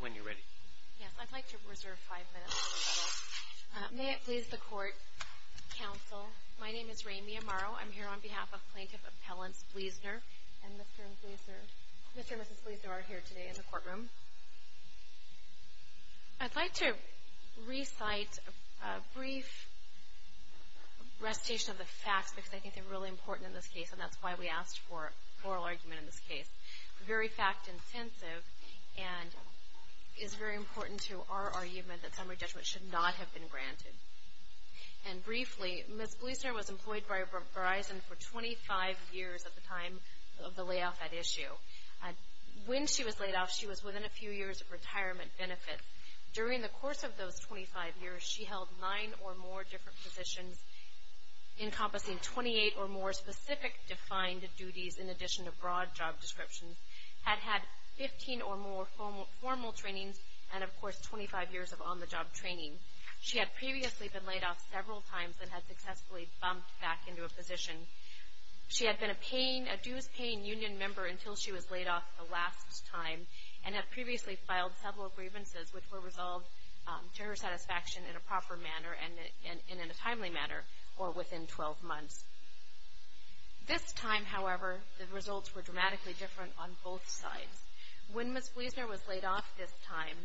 When you're ready. Yes, I'd like to reserve five minutes for the panel. May it please the Court, Counsel. My name is Rae Miyamaro. I'm here on behalf of Plaintiff Appellant Bliesner. And Mr. and Mrs. Bliesner are here today in the courtroom. I'd like to recite a brief recitation of the facts, because I think they're really important in this case, and that's why we asked for a oral argument in this case. It's very fact-intensive and is very important to our argument that summary judgment should not have been granted. And briefly, Ms. Bliesner was employed by Verizon for 25 years at the time of the layoff at issue. When she was laid off, she was within a few years of retirement benefits. During the course of those 25 years, she held nine or more different positions, encompassing 28 or more specific defined duties in addition to broad job descriptions, had had 15 or more formal trainings, and, of course, 25 years of on-the-job training. She had previously been laid off several times and had successfully bumped back into a position. She had been a dues-paying union member until she was laid off the last time and had previously filed several grievances which were resolved to her satisfaction in a proper manner and in a timely manner or within 12 months. This time, however, the results were dramatically different on both sides. When Ms. Bliesner was laid off this time,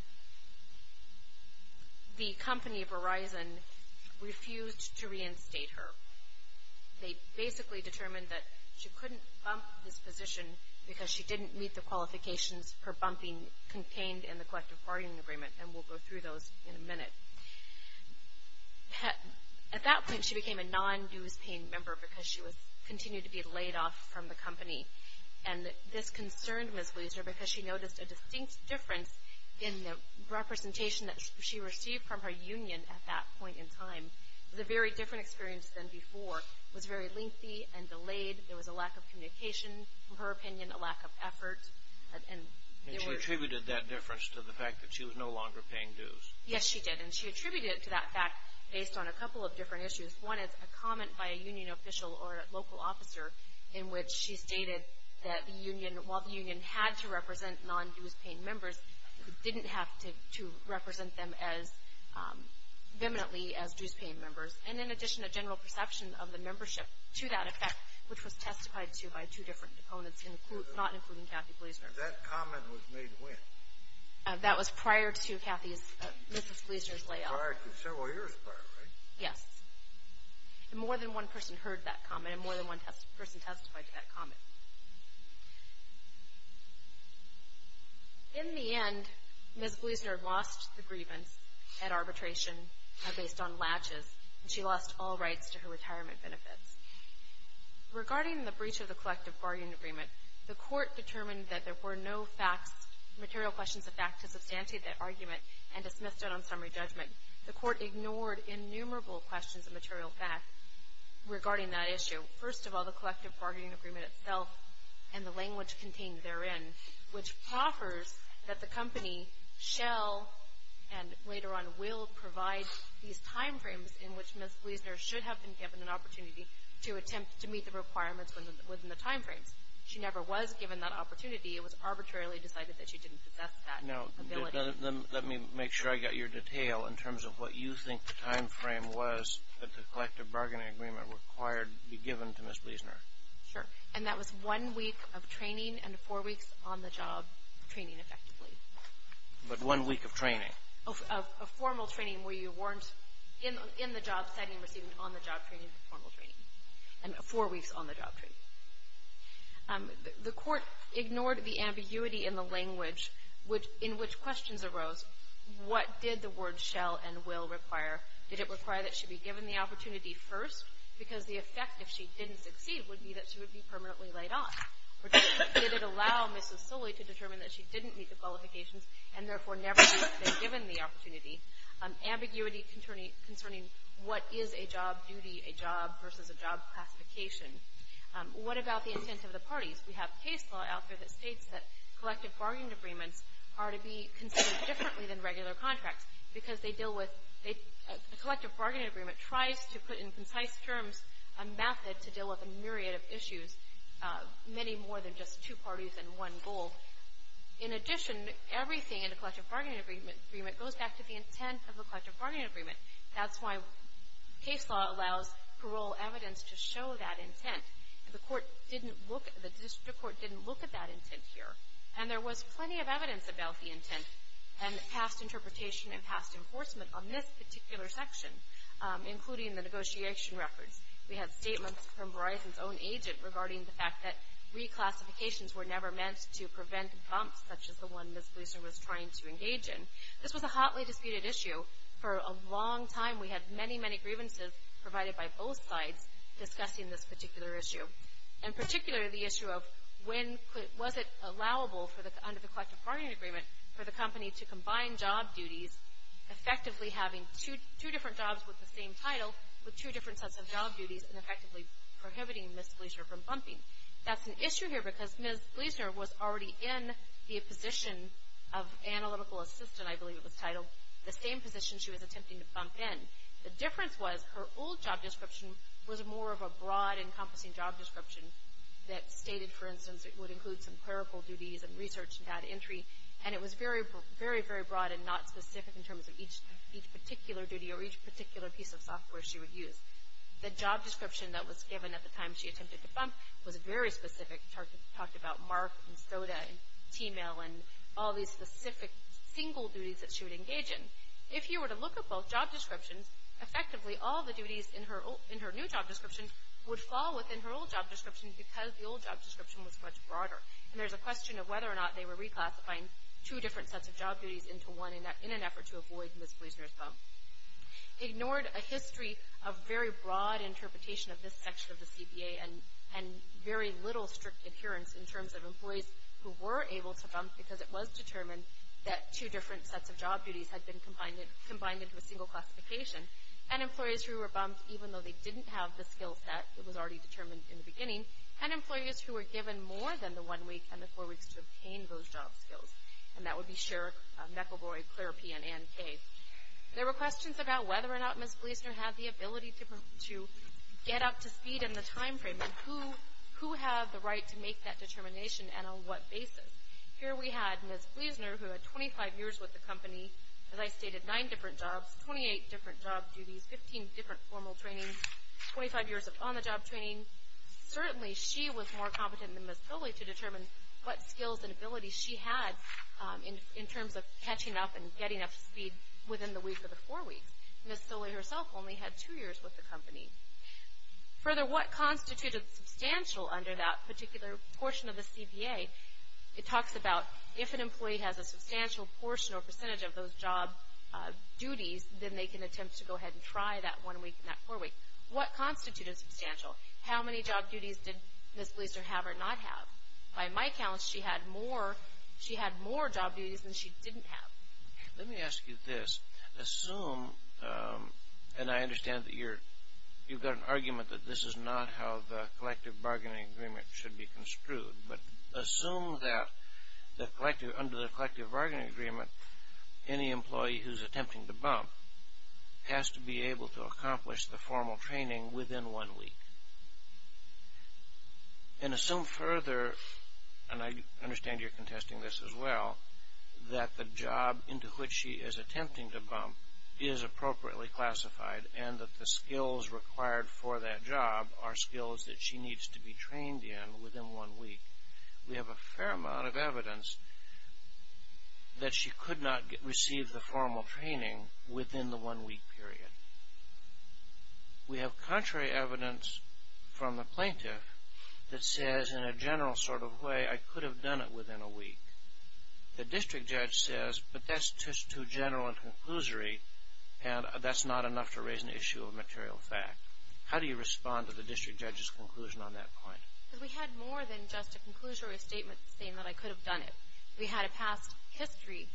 the company, Verizon, refused to reinstate her. They basically determined that she couldn't bump this position because she didn't meet the qualifications for bumping contained in the collective bargaining agreement, and we'll go through those in a minute. At that point, she became a non-dues-paying member because she continued to be laid off from the company. And this concerned Ms. Bliesner because she noticed a distinct difference in the representation and the very different experience than before was very lengthy and delayed. There was a lack of communication, in her opinion, a lack of effort. And she attributed that difference to the fact that she was no longer paying dues. Yes, she did, and she attributed it to that fact based on a couple of different issues. One is a comment by a union official or a local officer in which she stated that the union, while the union had to represent non-dues-paying members, didn't have to represent them as eminently as dues-paying members. And in addition, a general perception of the membership to that effect, which was testified to by two different opponents, not including Kathy Bliesner. And that comment was made when? That was prior to Ms. Bliesner's layoff. Prior to several years prior, right? Yes. And more than one person heard that comment, and more than one person testified to that comment. In the end, Ms. Bliesner lost the grievance at arbitration based on latches, and she lost all rights to her retirement benefits. Regarding the breach of the collective bargaining agreement, the court determined that there were no facts, material questions of fact, to substantiate that argument and dismissed it on summary judgment. The court ignored innumerable questions of material fact regarding that issue. First of all, the collective bargaining agreement itself and the language contained therein, which proffers that the company shall, and later on will, provide these time frames in which Ms. Bliesner should have been given an opportunity to attempt to meet the requirements within the time frames. She never was given that opportunity. It was arbitrarily decided that she didn't possess that ability. Now, let me make sure I got your detail in terms of what you think the time frame was that the collective bargaining agreement required to be given to Ms. Bliesner. Sure. And that was one week of training and four weeks on-the-job training, effectively. But one week of training. Of formal training where you weren't in the job setting receiving on-the-job training, formal training, and four weeks on-the-job training. The court ignored the ambiguity in the language in which questions arose. What did the word shall and will require? Did it require that she be given the opportunity first? Because the effect, if she didn't succeed, would be that she would be permanently laid off. Did it allow Mrs. Sully to determine that she didn't meet the qualifications and therefore never be given the opportunity? Ambiguity concerning what is a job duty, a job versus a job classification. What about the intent of the parties? We have case law out there that states that collective bargaining agreements are to be considered differently than regular contracts because they deal with the collective bargaining agreement tries to put in concise terms a method to deal with a myriad of issues, many more than just two parties and one goal. In addition, everything in a collective bargaining agreement goes back to the intent of a collective bargaining agreement. That's why case law allows parole evidence to show that intent. The court didn't look, the district court didn't look at that intent here. And there was plenty of evidence about the intent and past interpretation and past enforcement on this particular section, including the negotiation records. We had statements from Verizon's own agent regarding the fact that reclassifications were never meant to prevent bumps such as the one Ms. Gleason was trying to engage in. This was a hotly disputed issue. For a long time, we had many, many grievances provided by both sides discussing this particular issue. In particular, the issue of when was it allowable under the collective bargaining agreement for the company to combine job duties, effectively having two different jobs with the same title with two different sets of job duties and effectively prohibiting Ms. Gleason from bumping. That's an issue here because Ms. Gleason was already in the position of analytical assistant, I believe it was titled, the same position she was attempting to bump in. The difference was her old job description was more of a broad, encompassing job description that stated, for instance, it would include some clerical duties and research and data entry. And it was very, very broad and not specific in terms of each particular duty or each particular piece of software she would use. The job description that was given at the time she attempted to bump was very specific. It talked about mark and soda and T-mail and all these specific single duties that she would engage in. If you were to look at both job descriptions, effectively all the duties in her new job description would fall within her old job description because the old job description was much broader. And there's a question of whether or not they were reclassifying two different sets of job duties into one in an effort to avoid Ms. Gleason's bump. Ignored a history of very broad interpretation of this section of the CBA and very little strict adherence in terms of employees who were able to bump because it was determined that two different sets of job duties had been combined into a single classification, and employees who were bumped even though they didn't have the skill set that was already determined in the beginning, and employees who were given more than the one week and the four weeks to obtain those job skills. And that would be Sherrick, McElroy, Clear P, and Ann K. There were questions about whether or not Ms. Gleason had the ability to get up to speed in the time frame and who had the right to make that determination and on what basis. Here we had Ms. Gleason who had 25 years with the company, as I stated, nine different jobs, 28 different job duties, 15 different formal training, 25 years of on-the-job training. Certainly she was more competent than Ms. Foley to determine what skills and abilities she had in terms of catching up and getting up to speed within the week or the four weeks. Ms. Foley herself only had two years with the company. Further, what constituted substantial under that particular portion of the CBA it talks about if an employee has a substantial portion or percentage of those job duties, then they can attempt to go ahead and try that one week and that four week. What constituted substantial? How many job duties did Ms. Gleason have or not have? By my count, she had more job duties than she didn't have. Let me ask you this. Assume, and I understand that you've got an argument that this is not how the collective bargaining agreement should be construed, but assume that under the collective bargaining agreement, any employee who's attempting to bump has to be able to accomplish the formal training within one week. And assume further, and I understand you're contesting this as well, that the job into which she is attempting to bump is appropriately classified and that the skills required for that job are skills that she needs to be trained in within one week. We have a fair amount of evidence that she could not receive the formal training within the one week period. We have contrary evidence from the plaintiff that says in a general sort of way, I could have done it within a week. The district judge says, but that's just too general and conclusory, and that's not enough to raise an issue of material fact. How do you respond to the district judge's conclusion on that point? Because we had more than just a conclusory statement saying that I could have done it. We had a past history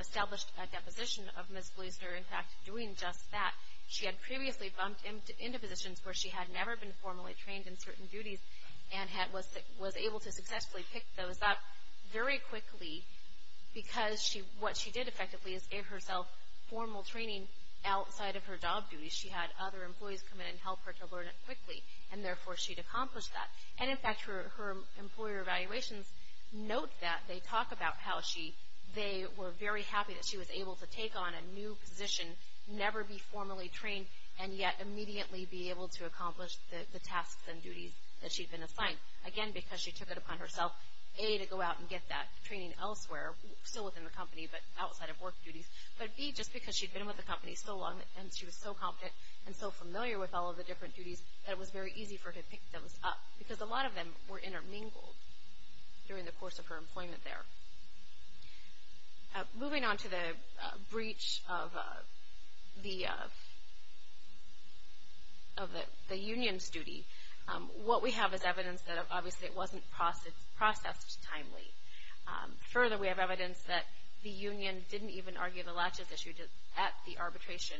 established at that position of Ms. Gleason in fact doing just that. She had previously bumped into positions where she had never been formally trained in certain duties and was able to successfully pick those up. Very quickly, because what she did effectively is give herself formal training outside of her job duties. She had other employees come in and help her to learn it quickly, and therefore she'd accomplish that. And in fact, her employer evaluations note that they talk about how they were very happy that she was able to take on a new position, never be formally trained, and yet immediately be able to accomplish the tasks and duties that she'd been assigned. Again, because she took it upon herself, A, to go out and get that training elsewhere, still within the company but outside of work duties, but B, just because she'd been with the company so long and she was so competent and so familiar with all of the different duties that it was very easy for her to pick those up. Because a lot of them were intermingled during the course of her employment there. Moving on to the breach of the union's duty, what we have is evidence that obviously it wasn't processed timely. Further, we have evidence that the union didn't even argue the latches issue at the arbitration.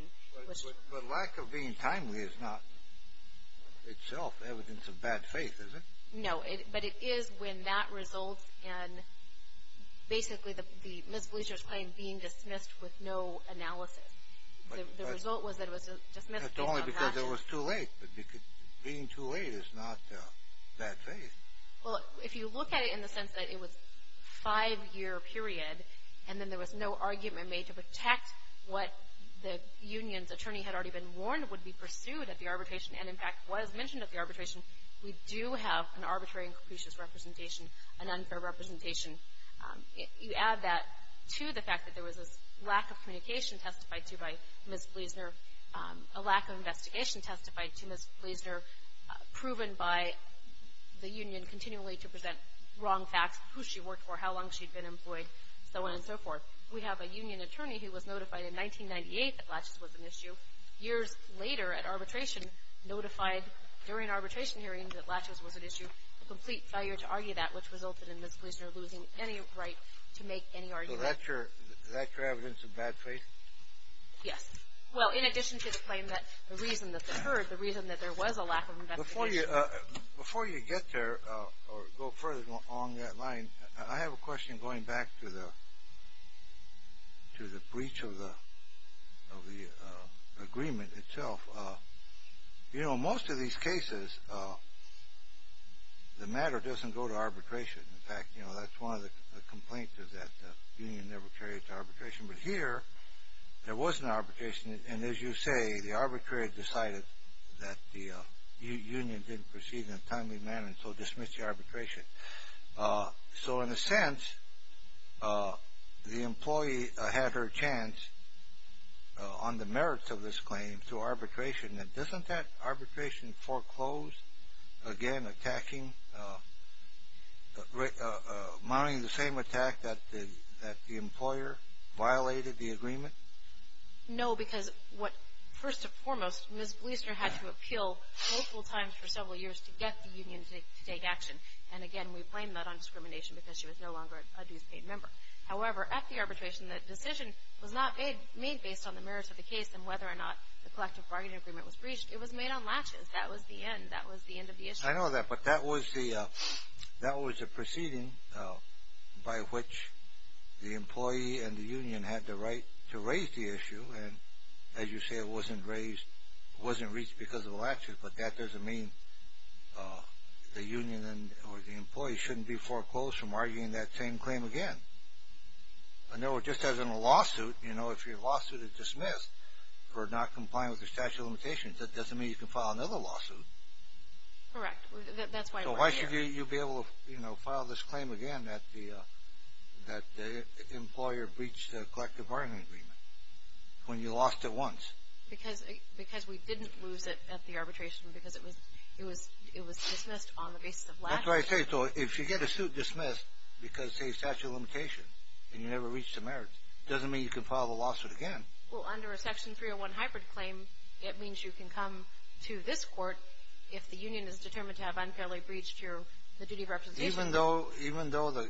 But lack of being timely is not itself evidence of bad faith, is it? No, but it is when that results in basically the misdemeanors claim being dismissed with no analysis. The result was that it was a dismissal. Not only because it was too late, but being too late is not bad faith. Well, if you look at it in the sense that it was a five-year period and then there was no argument made to protect what the union's attorney had already been warned would be pursued at the arbitration and, in fact, was mentioned at the arbitration, we do have an arbitrary and capricious representation, an unfair representation. You add that to the fact that there was this lack of communication testified to by Ms. Gleasner, a lack of investigation testified to Ms. Gleasner, proven by the union continually to present wrong facts, who she worked for, how long she'd been employed, so on and so forth. We have a union attorney who was notified in 1998 that latches was an issue. Years later at arbitration, notified during arbitration hearings that latches was an issue. There was a complete failure to argue that, which resulted in Ms. Gleasner losing any right to make any argument. So that's your evidence of bad faith? Yes. Well, in addition to the claim that the reason that occurred, the reason that there was a lack of investigation. Before you get there or go further along that line, I have a question going back to the breach of the agreement itself. You know, most of these cases, the matter doesn't go to arbitration. In fact, you know, that's one of the complaints is that the union never carried it to arbitration. But here, there was an arbitration. And as you say, the arbitrator decided that the union didn't proceed in a timely manner and so dismissed the arbitration. So in a sense, the employee had her chance on the merits of this claim to arbitration. Now, doesn't that arbitration foreclose, again, attacking, mounting the same attack that the employer violated the agreement? No, because what, first and foremost, Ms. Gleasner had to appeal multiple times for several years to get the union to take action. And again, we blame that on discrimination because she was no longer a dues-paid member. However, at the arbitration, the decision was not made based on the merits of the case and whether or not the collective bargaining agreement was breached. It was made on latches. That was the end. That was the end of the issue. I know that, but that was the proceeding by which the employee and the union had the right to raise the issue. And as you say, it wasn't raised, it wasn't reached because of the latches, but that doesn't mean the union or the employee shouldn't be foreclosed from arguing that same claim again. Just as in a lawsuit, you know, if your lawsuit is dismissed for not complying with the statute of limitations, that doesn't mean you can file another lawsuit. Correct. That's why we're here. Why should you be able to, you know, file this claim again that the employer breached the collective bargaining agreement when you lost it once? Because we didn't lose it at the arbitration because it was dismissed on the basis of latches. That's what I say. So if you get a suit dismissed because, say, statute of limitations and you never reached the merits, it doesn't mean you can file the lawsuit again. Well, under a Section 301 hybrid claim, it means you can come to this court if the union is determined to have unfairly breached the duty of representation. Even though the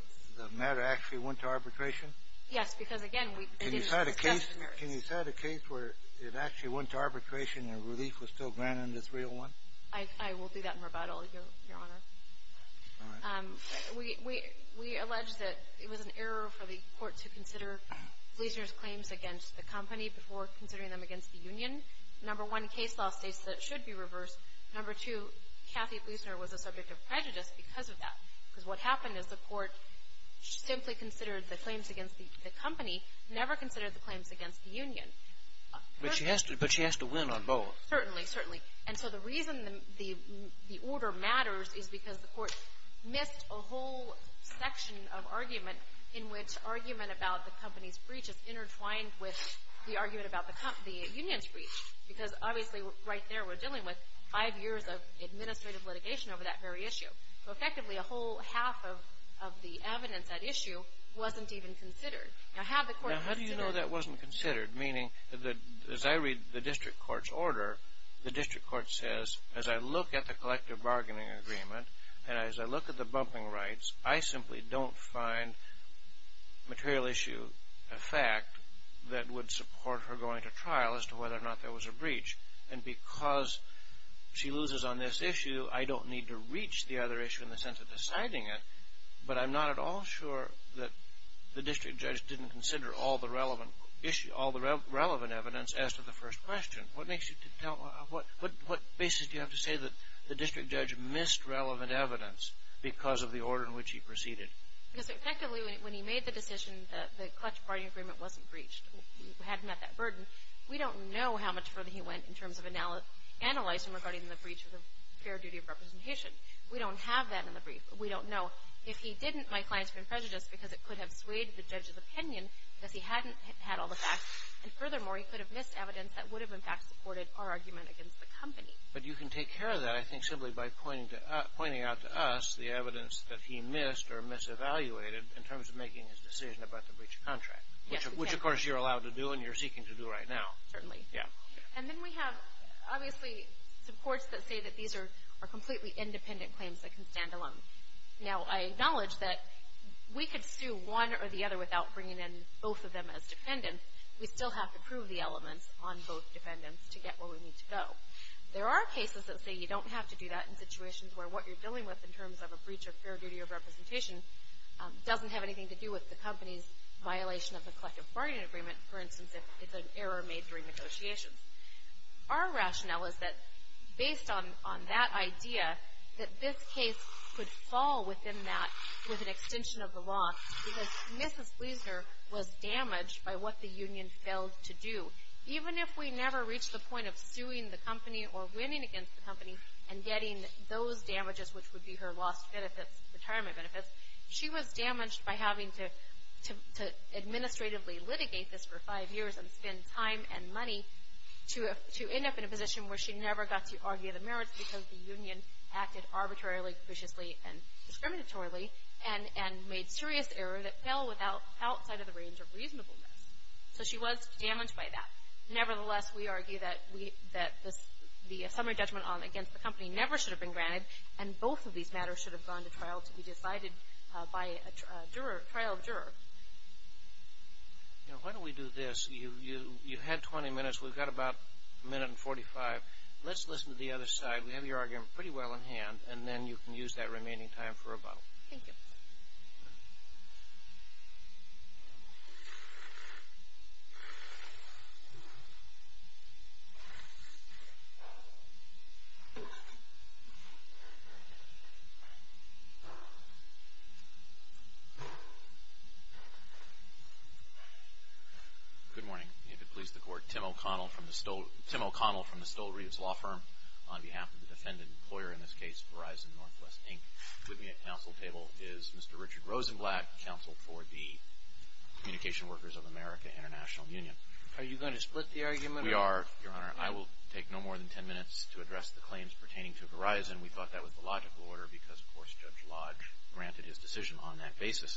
matter actually went to arbitration? Yes, because, again, we didn't discuss the merits. Can you cite a case where it actually went to arbitration and relief was still granted in the 301? I will do that in rebuttal, Your Honor. All right. We allege that it was an error for the court to consider Gleasner's claims against the company before considering them against the union. Number one, case law states that it should be reversed. Number two, Kathy Gleasner was a subject of prejudice because of that. Because what happened is the court simply considered the claims against the company, never considered the claims against the union. But she has to win on both. Certainly, certainly. And so the reason the order matters is because the court missed a whole section of argument in which argument about the company's breach is intertwined with the argument about the union's breach. Because, obviously, right there we're dealing with five years of administrative litigation over that very issue. So, effectively, a whole half of the evidence at issue wasn't even considered. Now, how do you know that wasn't considered? Meaning, as I read the district court's order, the district court says, as I look at the collective bargaining agreement and as I look at the bumping rights, I simply don't find material issue a fact that would support her going to trial as to whether or not there was a breach. And because she loses on this issue, I don't need to reach the other issue in the sense of deciding it. But I'm not at all sure that the district judge didn't consider all the relevant evidence as to the first question. What basis do you have to say that the district judge missed relevant evidence because of the order in which he proceeded? Because, effectively, when he made the decision, the collective bargaining agreement wasn't breached. We hadn't met that burden. We don't know how much further he went in terms of analyzing regarding the breach of the fair duty of representation. We don't have that in the brief. We don't know. If he didn't, my client's been prejudiced because it could have swayed the judge's opinion because he hadn't had all the facts. And furthermore, he could have missed evidence that would have, in fact, supported our argument against the company. But you can take care of that, I think, simply by pointing out to us the evidence that he missed or mis-evaluated in terms of making his decision about the breach of contract. Yes, we can. Which, of course, you're allowed to do and you're seeking to do right now. Certainly. Yeah. And then we have, obviously, supports that say that these are completely independent claims that can stand alone. Now, I acknowledge that we could sue one or the other without bringing in both of them as defendants. We still have to prove the elements on both defendants to get where we need to go. There are cases that say you don't have to do that in situations where what you're dealing with in terms of a breach of fair duty of representation doesn't have anything to do with the company's violation of the collective bargaining agreement. For instance, if it's an error made during negotiations. Our rationale is that based on that idea, that this case could fall within that with an extension of the law because Mrs. Wiesner was damaged by what the union failed to do. Even if we never reached the point of suing the company or winning against the company and getting those damages, which would be her lost benefits, retirement benefits, she was damaged by having to administratively litigate this for five years and spend time and money to end up in a position where she never got to argue the merits because the union acted arbitrarily, capriciously, and discriminatorily and made serious error that fell outside of the range of reasonableness. So she was damaged by that. Nevertheless, we argue that the summary judgment against the company never should have been granted and both of these matters should have gone to trial to be decided by a trial juror. Why don't we do this? You had 20 minutes. We've got about a minute and 45. Let's listen to the other side. We have your argument pretty well in hand, and then you can use that remaining time for rebuttal. Thank you. Good morning. May it please the Court. Tim O'Connell from the Stoll-Reeves Law Firm on behalf of the defendant employer, in this case Verizon Northwest, Inc. With me at council table is Mr. Richard Rosenblatt, counsel for the Communication Workers of America International Union. Are you going to split the argument? We are, Your Honor. I will take no more than 10 minutes to address the claims pertaining to Verizon. We thought that was the logical order because, of course, Judge Lodge granted his decision on that basis.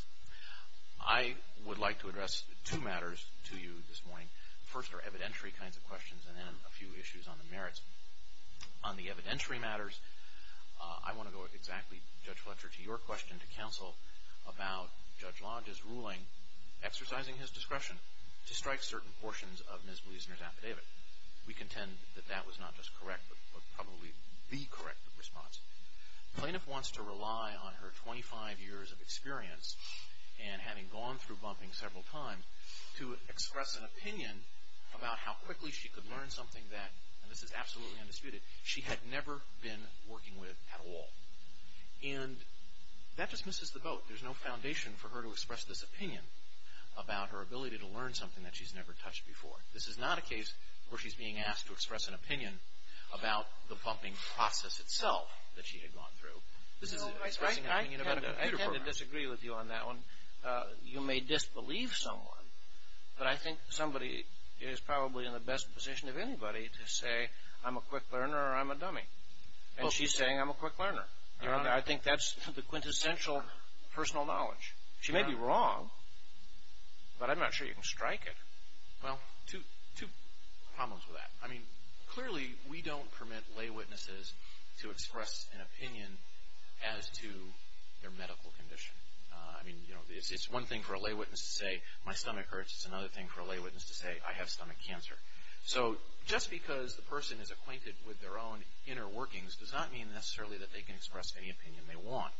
I would like to address two matters to you this morning. First are evidentiary kinds of questions and then a few issues on the merits. On the evidentiary matters, I want to go exactly, Judge Fletcher, to your question to counsel about Judge Lodge's ruling exercising his discretion to strike certain portions of Ms. Wiesner's affidavit. We contend that that was not just correct but probably the correct response. The plaintiff wants to rely on her 25 years of experience and having gone through bumping several times to express an opinion about how quickly she could learn something that, and this is absolutely undisputed, she had never been working with at all. And that just misses the boat. There's no foundation for her to express this opinion about her ability to learn something that she's never touched before. This is not a case where she's being asked to express an opinion about the pumping process itself that she had gone through. I tend to disagree with you on that one. You may disbelieve someone, but I think somebody is probably in the best position of anybody to say, I'm a quick learner or I'm a dummy. And she's saying I'm a quick learner. I think that's the quintessential personal knowledge. She may be wrong, but I'm not sure you can strike it. Well, two problems with that. I mean, clearly we don't permit lay witnesses to express an opinion as to their medical condition. I mean, it's one thing for a lay witness to say my stomach hurts. It's another thing for a lay witness to say I have stomach cancer. So just because the person is acquainted with their own inner workings does not mean necessarily that they can express any opinion they want.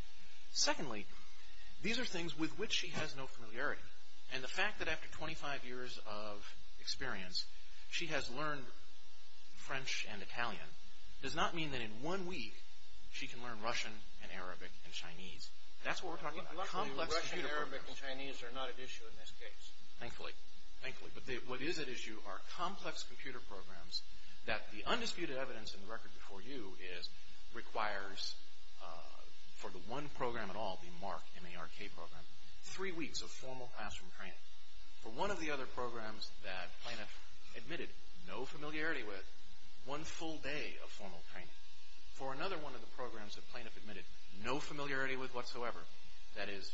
Secondly, these are things with which she has no familiarity. And the fact that after 25 years of experience, she has learned French and Italian does not mean that in one week she can learn Russian and Arabic and Chinese. That's what we're talking about. Luckily, Russian, Arabic, and Chinese are not at issue in this case. Thankfully. Thankfully. But what is at issue are complex computer programs that the undisputed evidence in the record before you requires for the one program at all, the MARC, M-A-R-C program, three weeks of formal classroom training. For one of the other programs that Planoff admitted no familiarity with, one full day of formal training. For another one of the programs that Planoff admitted no familiarity with whatsoever, that is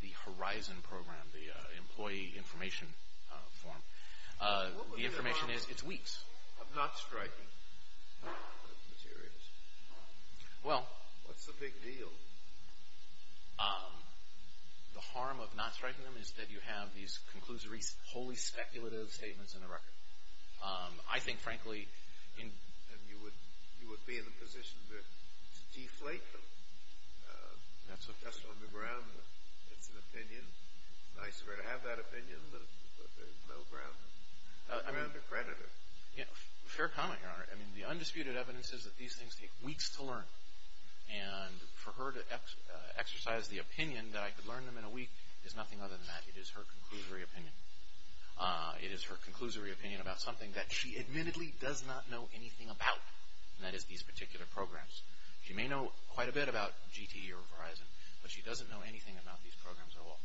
the HORIZON program, the employee information form, the information is weeks. What's the harm of not striking those materials? Well. What's the big deal? The harm of not striking them is that you have these conclusory, wholly speculative statements in the record. I think, frankly, you would be in a position to deflate them. That's on the ground that it's an opinion. It's nice for her to have that opinion, but there's no ground to credit her. Fair comment, Your Honor. I mean, the undisputed evidence is that these things take weeks to learn. And for her to exercise the opinion that I could learn them in a week is nothing other than that. It is her conclusory opinion. It is her conclusory opinion about something that she admittedly does not know anything about, and that is these particular programs. She may know quite a bit about GT or HORIZON, but she doesn't know anything about these programs at all.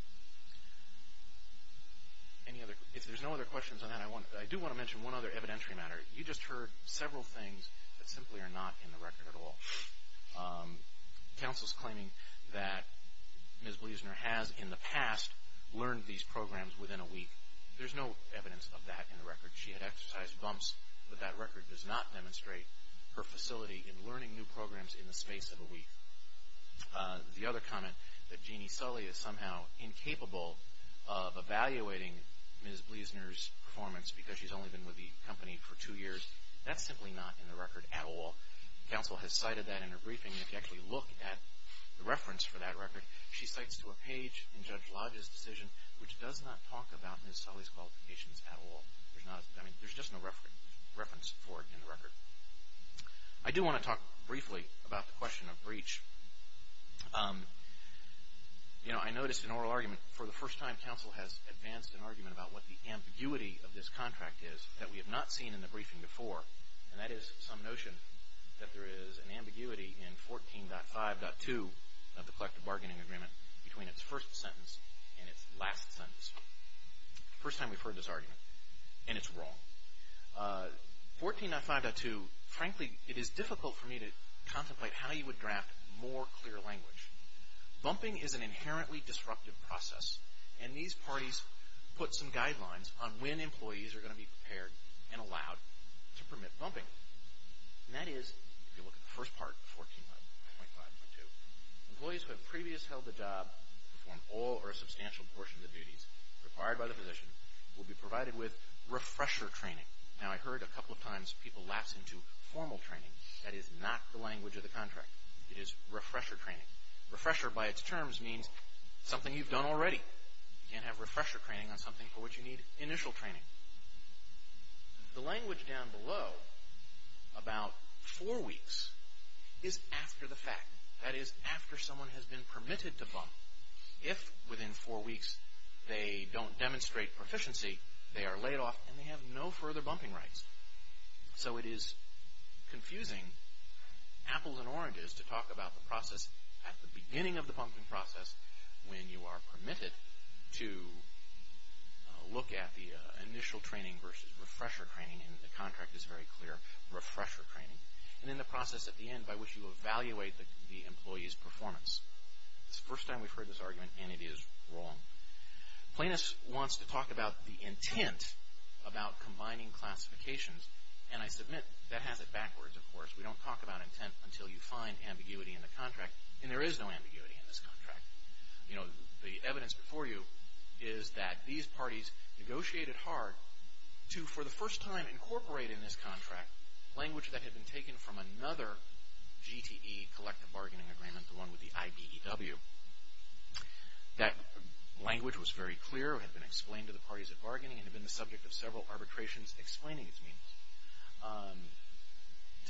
If there's no other questions on that, I do want to mention one other evidentiary matter. You just heard several things that simply are not in the record at all. Counsel's claiming that Ms. Bleasner has, in the past, learned these programs within a week. There's no evidence of that in the record. She had exercised bumps, but that record does not demonstrate her facility in learning new programs in the space of a week. The other comment that Jeannie Sully is somehow incapable of evaluating Ms. Bleasner's performance because she's only been with the company for two years, that's simply not in the record at all. Counsel has cited that in her briefing. If you actually look at the reference for that record, she cites to a page in Judge Lodge's decision which does not talk about Ms. Sully's qualifications at all. There's just no reference for it in the record. I do want to talk briefly about the question of breach. You know, I noticed an oral argument. For the first time, counsel has advanced an argument about what the ambiguity of this contract is that we have not seen in the briefing before. And that is some notion that there is an ambiguity in 14.5.2 of the collective bargaining agreement between its first sentence and its last sentence. First time we've heard this argument. And it's wrong. 14.5.2, frankly, it is difficult for me to contemplate how you would draft more clear language. Bumping is an inherently disruptive process. And these parties put some guidelines on when employees are going to be prepared and allowed to permit bumping. And that is, if you look at the first part of 14.5.2, employees who have previously held the job to perform all or a substantial portion of the duties required by the position will be provided with refresher training. Now, I've heard a couple of times people lapse into formal training. That is not the language of the contract. It is refresher training. Refresher, by its terms, means something you've done already. You can't have refresher training on something for which you need initial training. The language down below, about four weeks, is after the fact. That is, after someone has been permitted to bump. If, within four weeks, they don't demonstrate proficiency, they are laid off and they have no further bumping rights. So it is confusing apples and oranges to talk about the process at the beginning of the bumping process when you are permitted to look at the initial training versus refresher training. And the contract is very clear, refresher training. And then the process at the end by which you evaluate the employee's performance. It's the first time we've heard this argument, and it is wrong. Planus wants to talk about the intent about combining classifications. And I submit that has it backwards, of course. We don't talk about intent until you find ambiguity in the contract. And there is no ambiguity in this contract. You know, the evidence before you is that these parties negotiated hard to, for the first time, incorporate in this contract language that had been taken from another GTE, collective bargaining agreement, the one with the IBEW. That language was very clear, had been explained to the parties at bargaining, and had been the subject of several arbitrations explaining its meaning.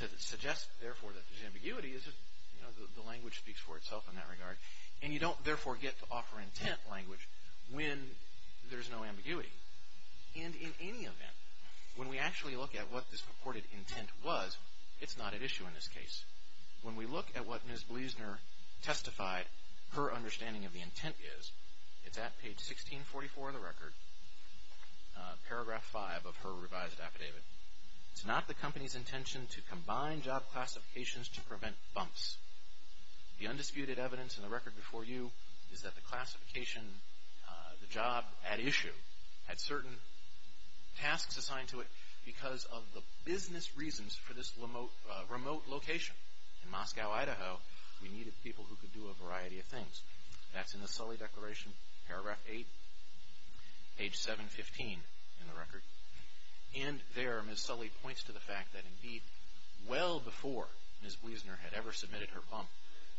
To suggest, therefore, that there is ambiguity, the language speaks for itself in that regard. And you don't, therefore, get to offer intent language when there is no ambiguity. And in any event, when we actually look at what this purported intent was, it's not at issue in this case. When we look at what Ms. Bleasner testified her understanding of the intent is, it's at page 1644 of the record, paragraph 5 of her revised affidavit. It's not the company's intention to combine job classifications to prevent bumps. The undisputed evidence in the record before you is that the classification, the job at issue, had certain tasks assigned to it because of the business reasons for this remote location. In Moscow, Idaho, we needed people who could do a variety of things. That's in the Sully Declaration, paragraph 8, page 715 in the record. And there, Ms. Sully points to the fact that, indeed, well before Ms. Bleasner had ever submitted her bump,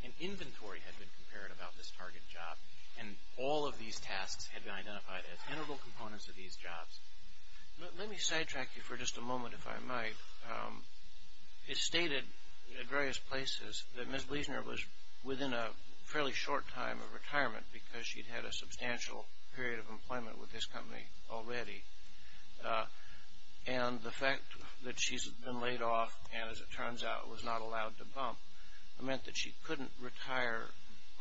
an inventory had been prepared about this target job, and all of these tasks had been identified as integral components of these jobs. Let me sidetrack you for just a moment, if I might. It's stated at various places that Ms. Bleasner was within a fairly short time of retirement because she'd had a substantial period of employment with this company already. And the fact that she's been laid off and, as it turns out, was not allowed to bump, meant that she couldn't retire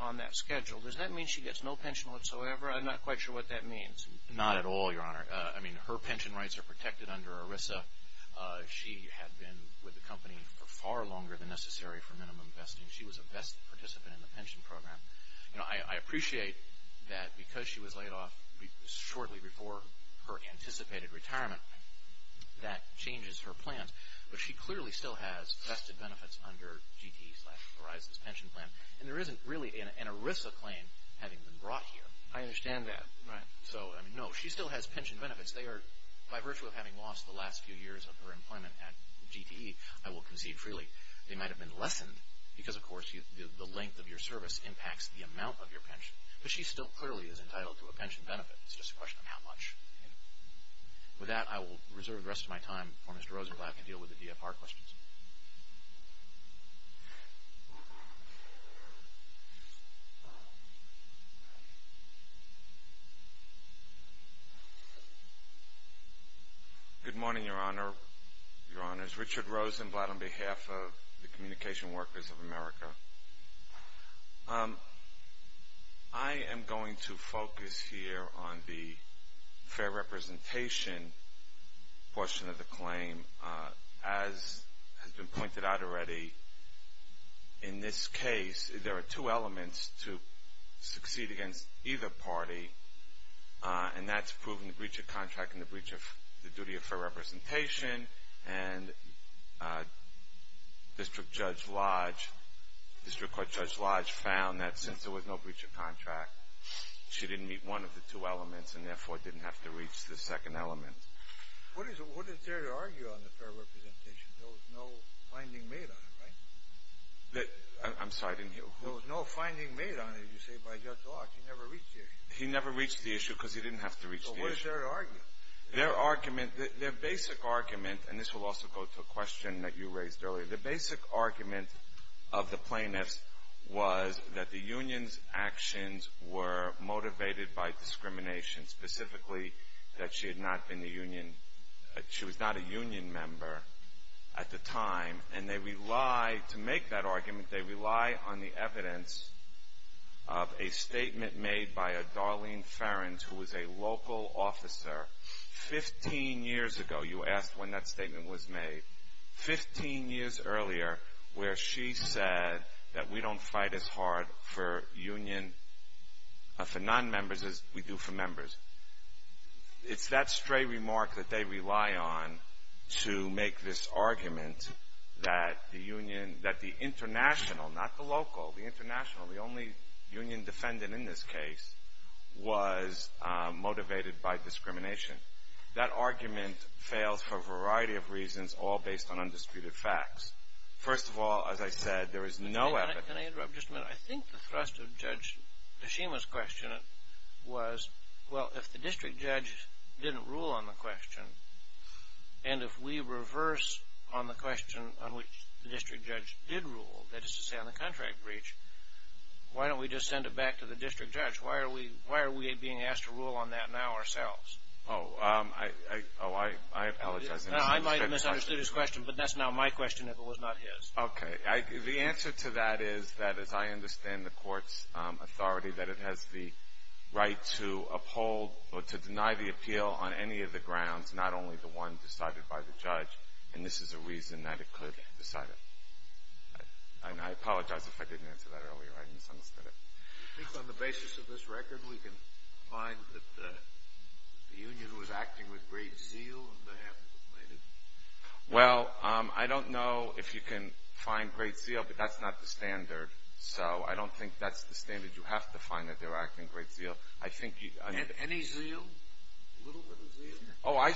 on that schedule. Does that mean she gets no pension whatsoever? I'm not quite sure what that means. Not at all, Your Honor. I mean, her pension rights are protected under ERISA. She had been with the company for far longer than necessary for minimum vesting. She was a vested participant in the pension program. You know, I appreciate that because she was laid off shortly before her anticipated retirement, that changes her plans. But she clearly still has vested benefits under GTE slash ERISA's pension plan, and there isn't really an ERISA claim having been brought here. I understand that. Right. So, I mean, no, she still has pension benefits. They are, by virtue of having lost the last few years of her employment at GTE, I will concede freely, they might have been lessened because, of course, the length of your service impacts the amount of your pension. But she still clearly is entitled to a pension benefit. It's just a question of how much. With that, I will reserve the rest of my time for Mr. Rosenblatt to deal with the DFR questions. Good morning, Your Honor, Your Honors. Richard Rosenblatt on behalf of the Communication Workers of America. I am going to focus here on the fair representation portion of the claim. As has been pointed out already, in this case, there are two elements to succeed against either party, and that's proving the breach of contract and the breach of the duty of fair representation. And District Court Judge Lodge found that since there was no breach of contract, she didn't meet one of the two elements and, therefore, didn't have to reach the second element. What is there to argue on the fair representation? There was no finding made on it, right? I'm sorry, I didn't hear. There was no finding made on it, you say, by Judge Lodge. He never reached the issue. He never reached the issue because he didn't have to reach the issue. So what is there to argue? Their argument, their basic argument, and this will also go to a question that you raised earlier, the basic argument of the plaintiffs was that the union's actions were motivated by discrimination, specifically that she had not been the union, she was not a union member at the time. And they rely, to make that argument, they rely on the evidence of a statement made by a Darlene Ferens, who was a local officer, 15 years ago. You asked when that statement was made. Fifteen years earlier, where she said that we don't fight as hard for nonmembers as we do for members. It's that stray remark that they rely on to make this argument that the international, not the local, the international, the only union defendant in this case, was motivated by discrimination. That argument fails for a variety of reasons, all based on undisputed facts. First of all, as I said, there is no evidence. Can I interrupt? Just a minute. I think the thrust of Judge Tashima's question was, well, if the district judge didn't rule on the question, and if we reverse on the question on which the district judge did rule, that is to say on the contract breach, why don't we just send it back to the district judge? Why are we being asked to rule on that now ourselves? Oh, I apologize. I might have misunderstood his question, but that's now my question if it was not his. Okay. The answer to that is that, as I understand the court's authority, that it has the right to uphold or to deny the appeal on any of the grounds, not only the one decided by the judge, and this is a reason that it could decide it. And I apologize if I didn't answer that earlier. I misunderstood it. Do you think on the basis of this record we can find that the union was acting with great zeal and they haven't complained? Well, I don't know if you can find great zeal, but that's not the standard, so I don't think that's the standard you have to find that they were acting with great zeal. Any zeal? A little bit of zeal? Oh, I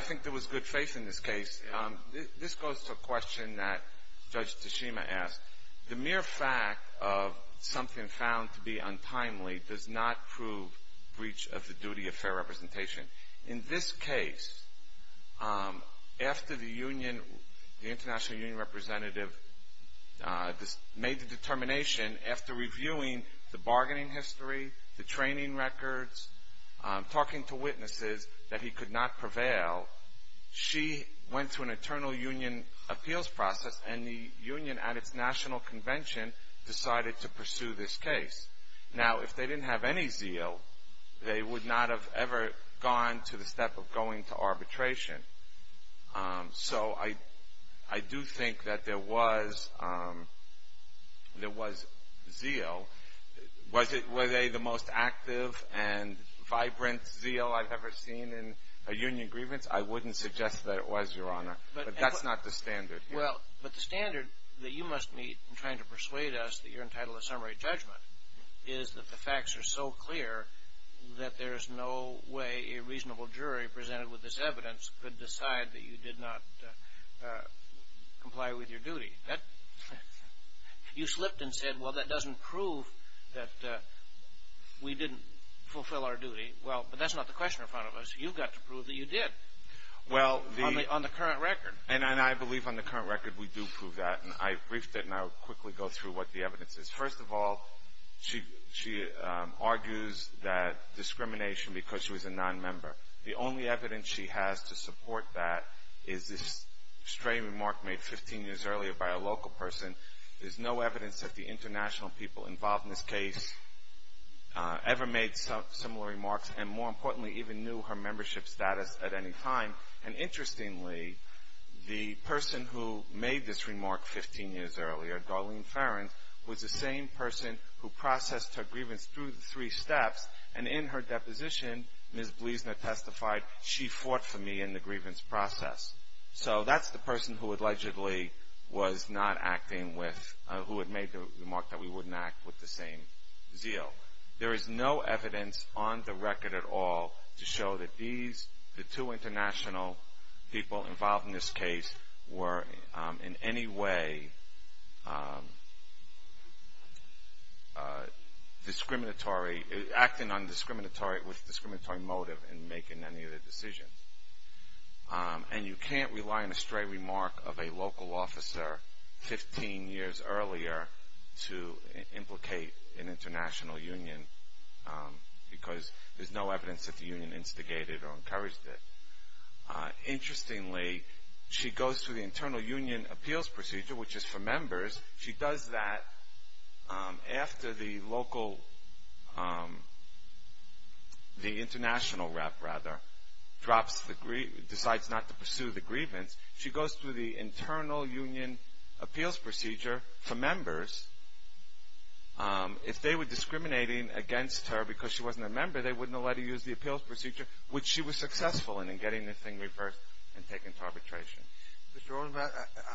think there was good faith in this case. This goes to a question that Judge Tashima asked. The mere fact of something found to be untimely does not prove breach of the duty of fair representation. In this case, after the international union representative made the determination, after reviewing the bargaining history, the training records, talking to witnesses that he could not prevail, she went to an internal union appeals process, and the union at its national convention decided to pursue this case. Now, if they didn't have any zeal, they would not have ever gone to the step of going to arbitration. So I do think that there was zeal. Were they the most active and vibrant zeal I've ever seen in a union grievance? I wouldn't suggest that it was, Your Honor, but that's not the standard here. Well, but the standard that you must meet in trying to persuade us that you're entitled to summary judgment is that the facts are so clear that there is no way a reasonable jury presented with this evidence could decide that you did not comply with your duty. You slipped and said, well, that doesn't prove that we didn't fulfill our duty. Well, but that's not the question in front of us. You've got to prove that you did on the current record. And I believe on the current record we do prove that. And I briefed it, and I will quickly go through what the evidence is. First of all, she argues that discrimination because she was a nonmember. The only evidence she has to support that is this stray remark made 15 years earlier by a local person. There's no evidence that the international people involved in this case ever made similar remarks and, more importantly, even knew her membership status at any time. And interestingly, the person who made this remark 15 years earlier, Darlene Farrans, was the same person who processed her grievance through the three steps. And in her deposition, Ms. Bleasner testified, she fought for me in the grievance process. So that's the person who allegedly was not acting with, who had made the remark that we wouldn't act with the same zeal. There is no evidence on the record at all to show that these, the two international people involved in this case, were in any way discriminatory, acting on discriminatory, with discriminatory motive in making any of the decisions. And you can't rely on a stray remark of a local officer 15 years earlier to implicate an international union because there's no evidence that the union instigated or encouraged it. Interestingly, she goes through the internal union appeals procedure, which is for members. She does that after the local, the international rep, rather, drops the, decides not to pursue the grievance. She goes through the internal union appeals procedure for members. If they were discriminating against her because she wasn't a member, they wouldn't have let her use the appeals procedure, which she was successful in, in getting this thing reversed and taken to arbitration. Mr. Rosenblatt,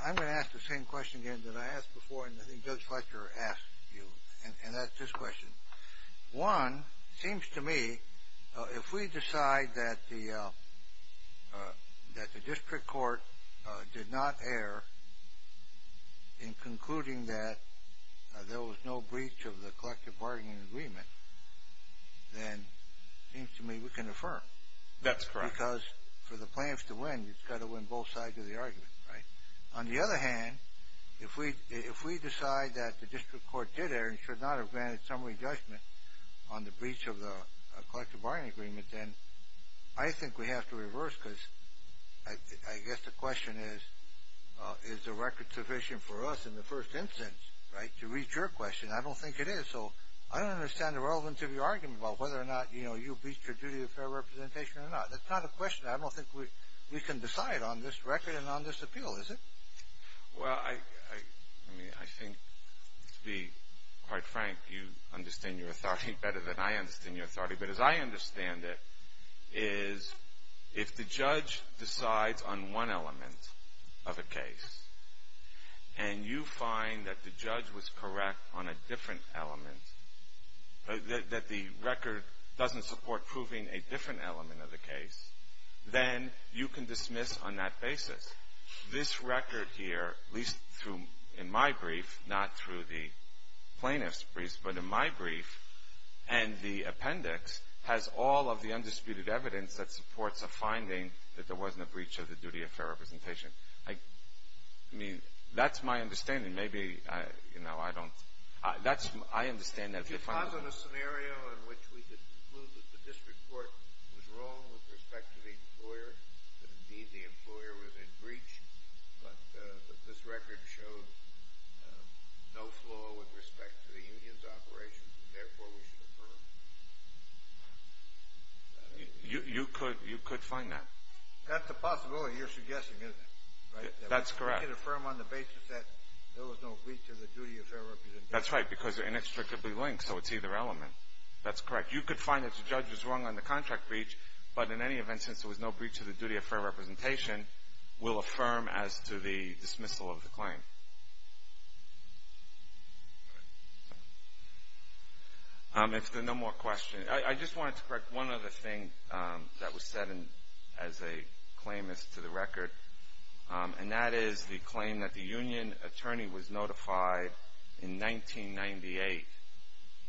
I'm going to ask the same question again that I asked before, and I think Judge Fletcher asked you, and that's this question. One, it seems to me, if we decide that the, that the district court did not err in concluding that there was no breach of the collective bargaining agreement, then it seems to me we can affirm. That's correct. Because for the plaintiffs to win, you've got to win both sides of the argument, right? On the other hand, if we decide that the district court did err and should not have granted summary judgment on the breach of the collective bargaining agreement, then I think we have to reverse, because I guess the question is, is the record sufficient for us in the first instance, right, to reach your question? I don't think it is. So I don't understand the relevance of your argument about whether or not, you know, you breached your duty of fair representation or not. That's not a question I don't think we can decide on this record and on this appeal, is it? Well, I mean, I think, to be quite frank, you understand your authority better than I understand your authority. But as I understand it, is if the judge decides on one element of a case, and you find that the judge was correct on a different element, that the record doesn't support proving a different element of the case, then you can dismiss on that basis. This record here, at least in my brief, not through the plaintiff's brief, but in my brief, and the appendix has all of the undisputed evidence that supports a finding that there wasn't a breach of the duty of fair representation. I mean, that's my understanding. I mean, maybe, you know, I don't. I understand that if you find that. If he finds in a scenario in which we could conclude that the district court was wrong with respect to the employer, that indeed the employer was in breach, but that this record shows no flaw with respect to the union's operation, therefore we should affirm. You could find that. That's a possibility you're suggesting, isn't it? That's correct. You could affirm on the basis that there was no breach of the duty of fair representation. That's right, because they're inextricably linked, so it's either element. That's correct. You could find that the judge was wrong on the contract breach, but in any event, since there was no breach of the duty of fair representation, we'll affirm as to the dismissal of the claim. If there are no more questions. I just wanted to correct one other thing that was said as a claimant to the record, and that is the claim that the union attorney was notified in 1998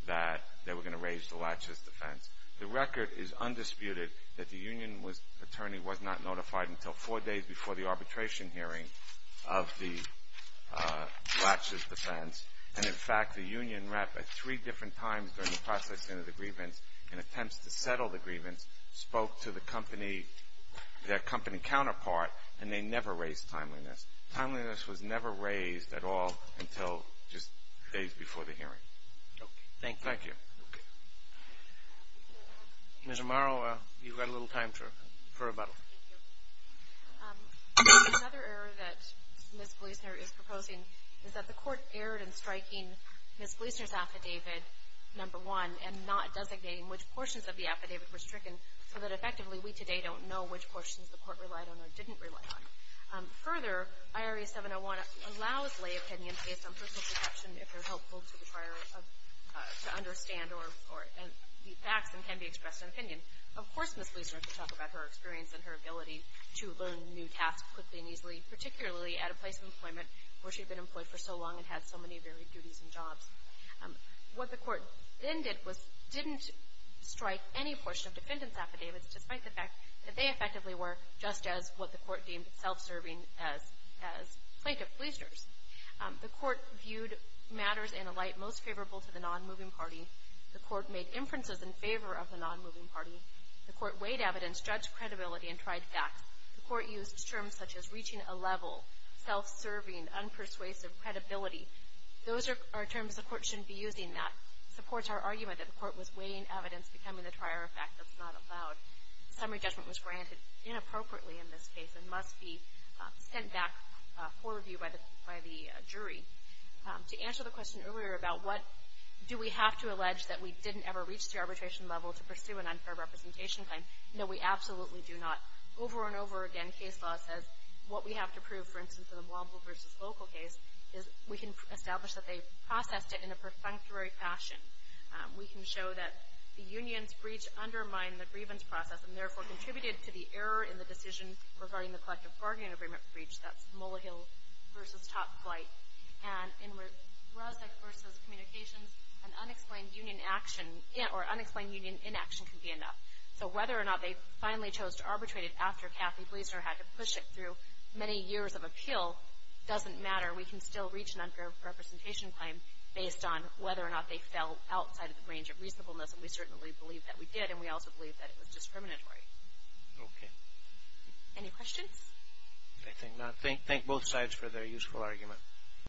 that they were going to raise the Latches defense. The record is undisputed that the union attorney was not notified until four days before the arbitration hearing of the Latches defense, and, in fact, the union rep at three different times during the processing of the grievance and attempts to settle the grievance spoke to the company, their company counterpart, and they never raised timeliness. Timeliness was never raised at all until just days before the hearing. Okay. Thank you. Thank you. Ms. Amaro, you've got a little time for rebuttal. Another error that Ms. Gleasner is proposing is that the court erred in striking Ms. Gleasner's affidavit number one and not designating which portions of the affidavit were stricken so that, effectively, we today don't know which portions the court relied on or didn't rely on. Further, IRA 701 allows lay opinions based on personal perception, if they're helpful to the prior to understand or the facts and can be expressed in opinion. Of course, Ms. Gleasner could talk about her experience and her ability to learn new tasks quickly and easily, particularly at a place of employment where she'd been employed for so long and had so many varied duties and jobs. What the court then did was didn't strike any portion of defendant's affidavits, despite the fact that they effectively were just as what the court deemed self-serving as plaintiff-Gleasners. The court viewed matters in a light most favorable to the non-moving party. The court made inferences in favor of the non-moving party. The court weighed evidence, judged credibility, and tried facts. The court used terms such as reaching a level, self-serving, unpersuasive credibility. Those are terms the court shouldn't be using. That supports our argument that the court was weighing evidence becoming the prior effect that's not allowed. Summary judgment was granted inappropriately in this case and must be sent back for review by the jury. To answer the question earlier about what do we have to allege that we didn't ever reach the arbitration level to pursue an unfair representation claim, no, we absolutely do not. Over and over again, case law says what we have to prove, for instance, in the Womble v. Local case is we can establish that they processed it in a perfunctory fashion. We can show that the union's breach undermined the grievance process and, therefore, contributed to the error in the decision regarding the collective bargaining agreement breach. That's Mullahill v. Top Flight. And in Rasek v. Communications, an unexplained union action or unexplained union inaction can be enough. So whether or not they finally chose to arbitrate it after Kathy Blesner had to push it through many years of appeal doesn't matter. We can still reach an unfair representation claim based on whether or not they fell outside the range of reasonableness, and we certainly believe that we did, and we also believe that it was discriminatory. Okay. Any questions? I think not. Thank both sides for their useful argument.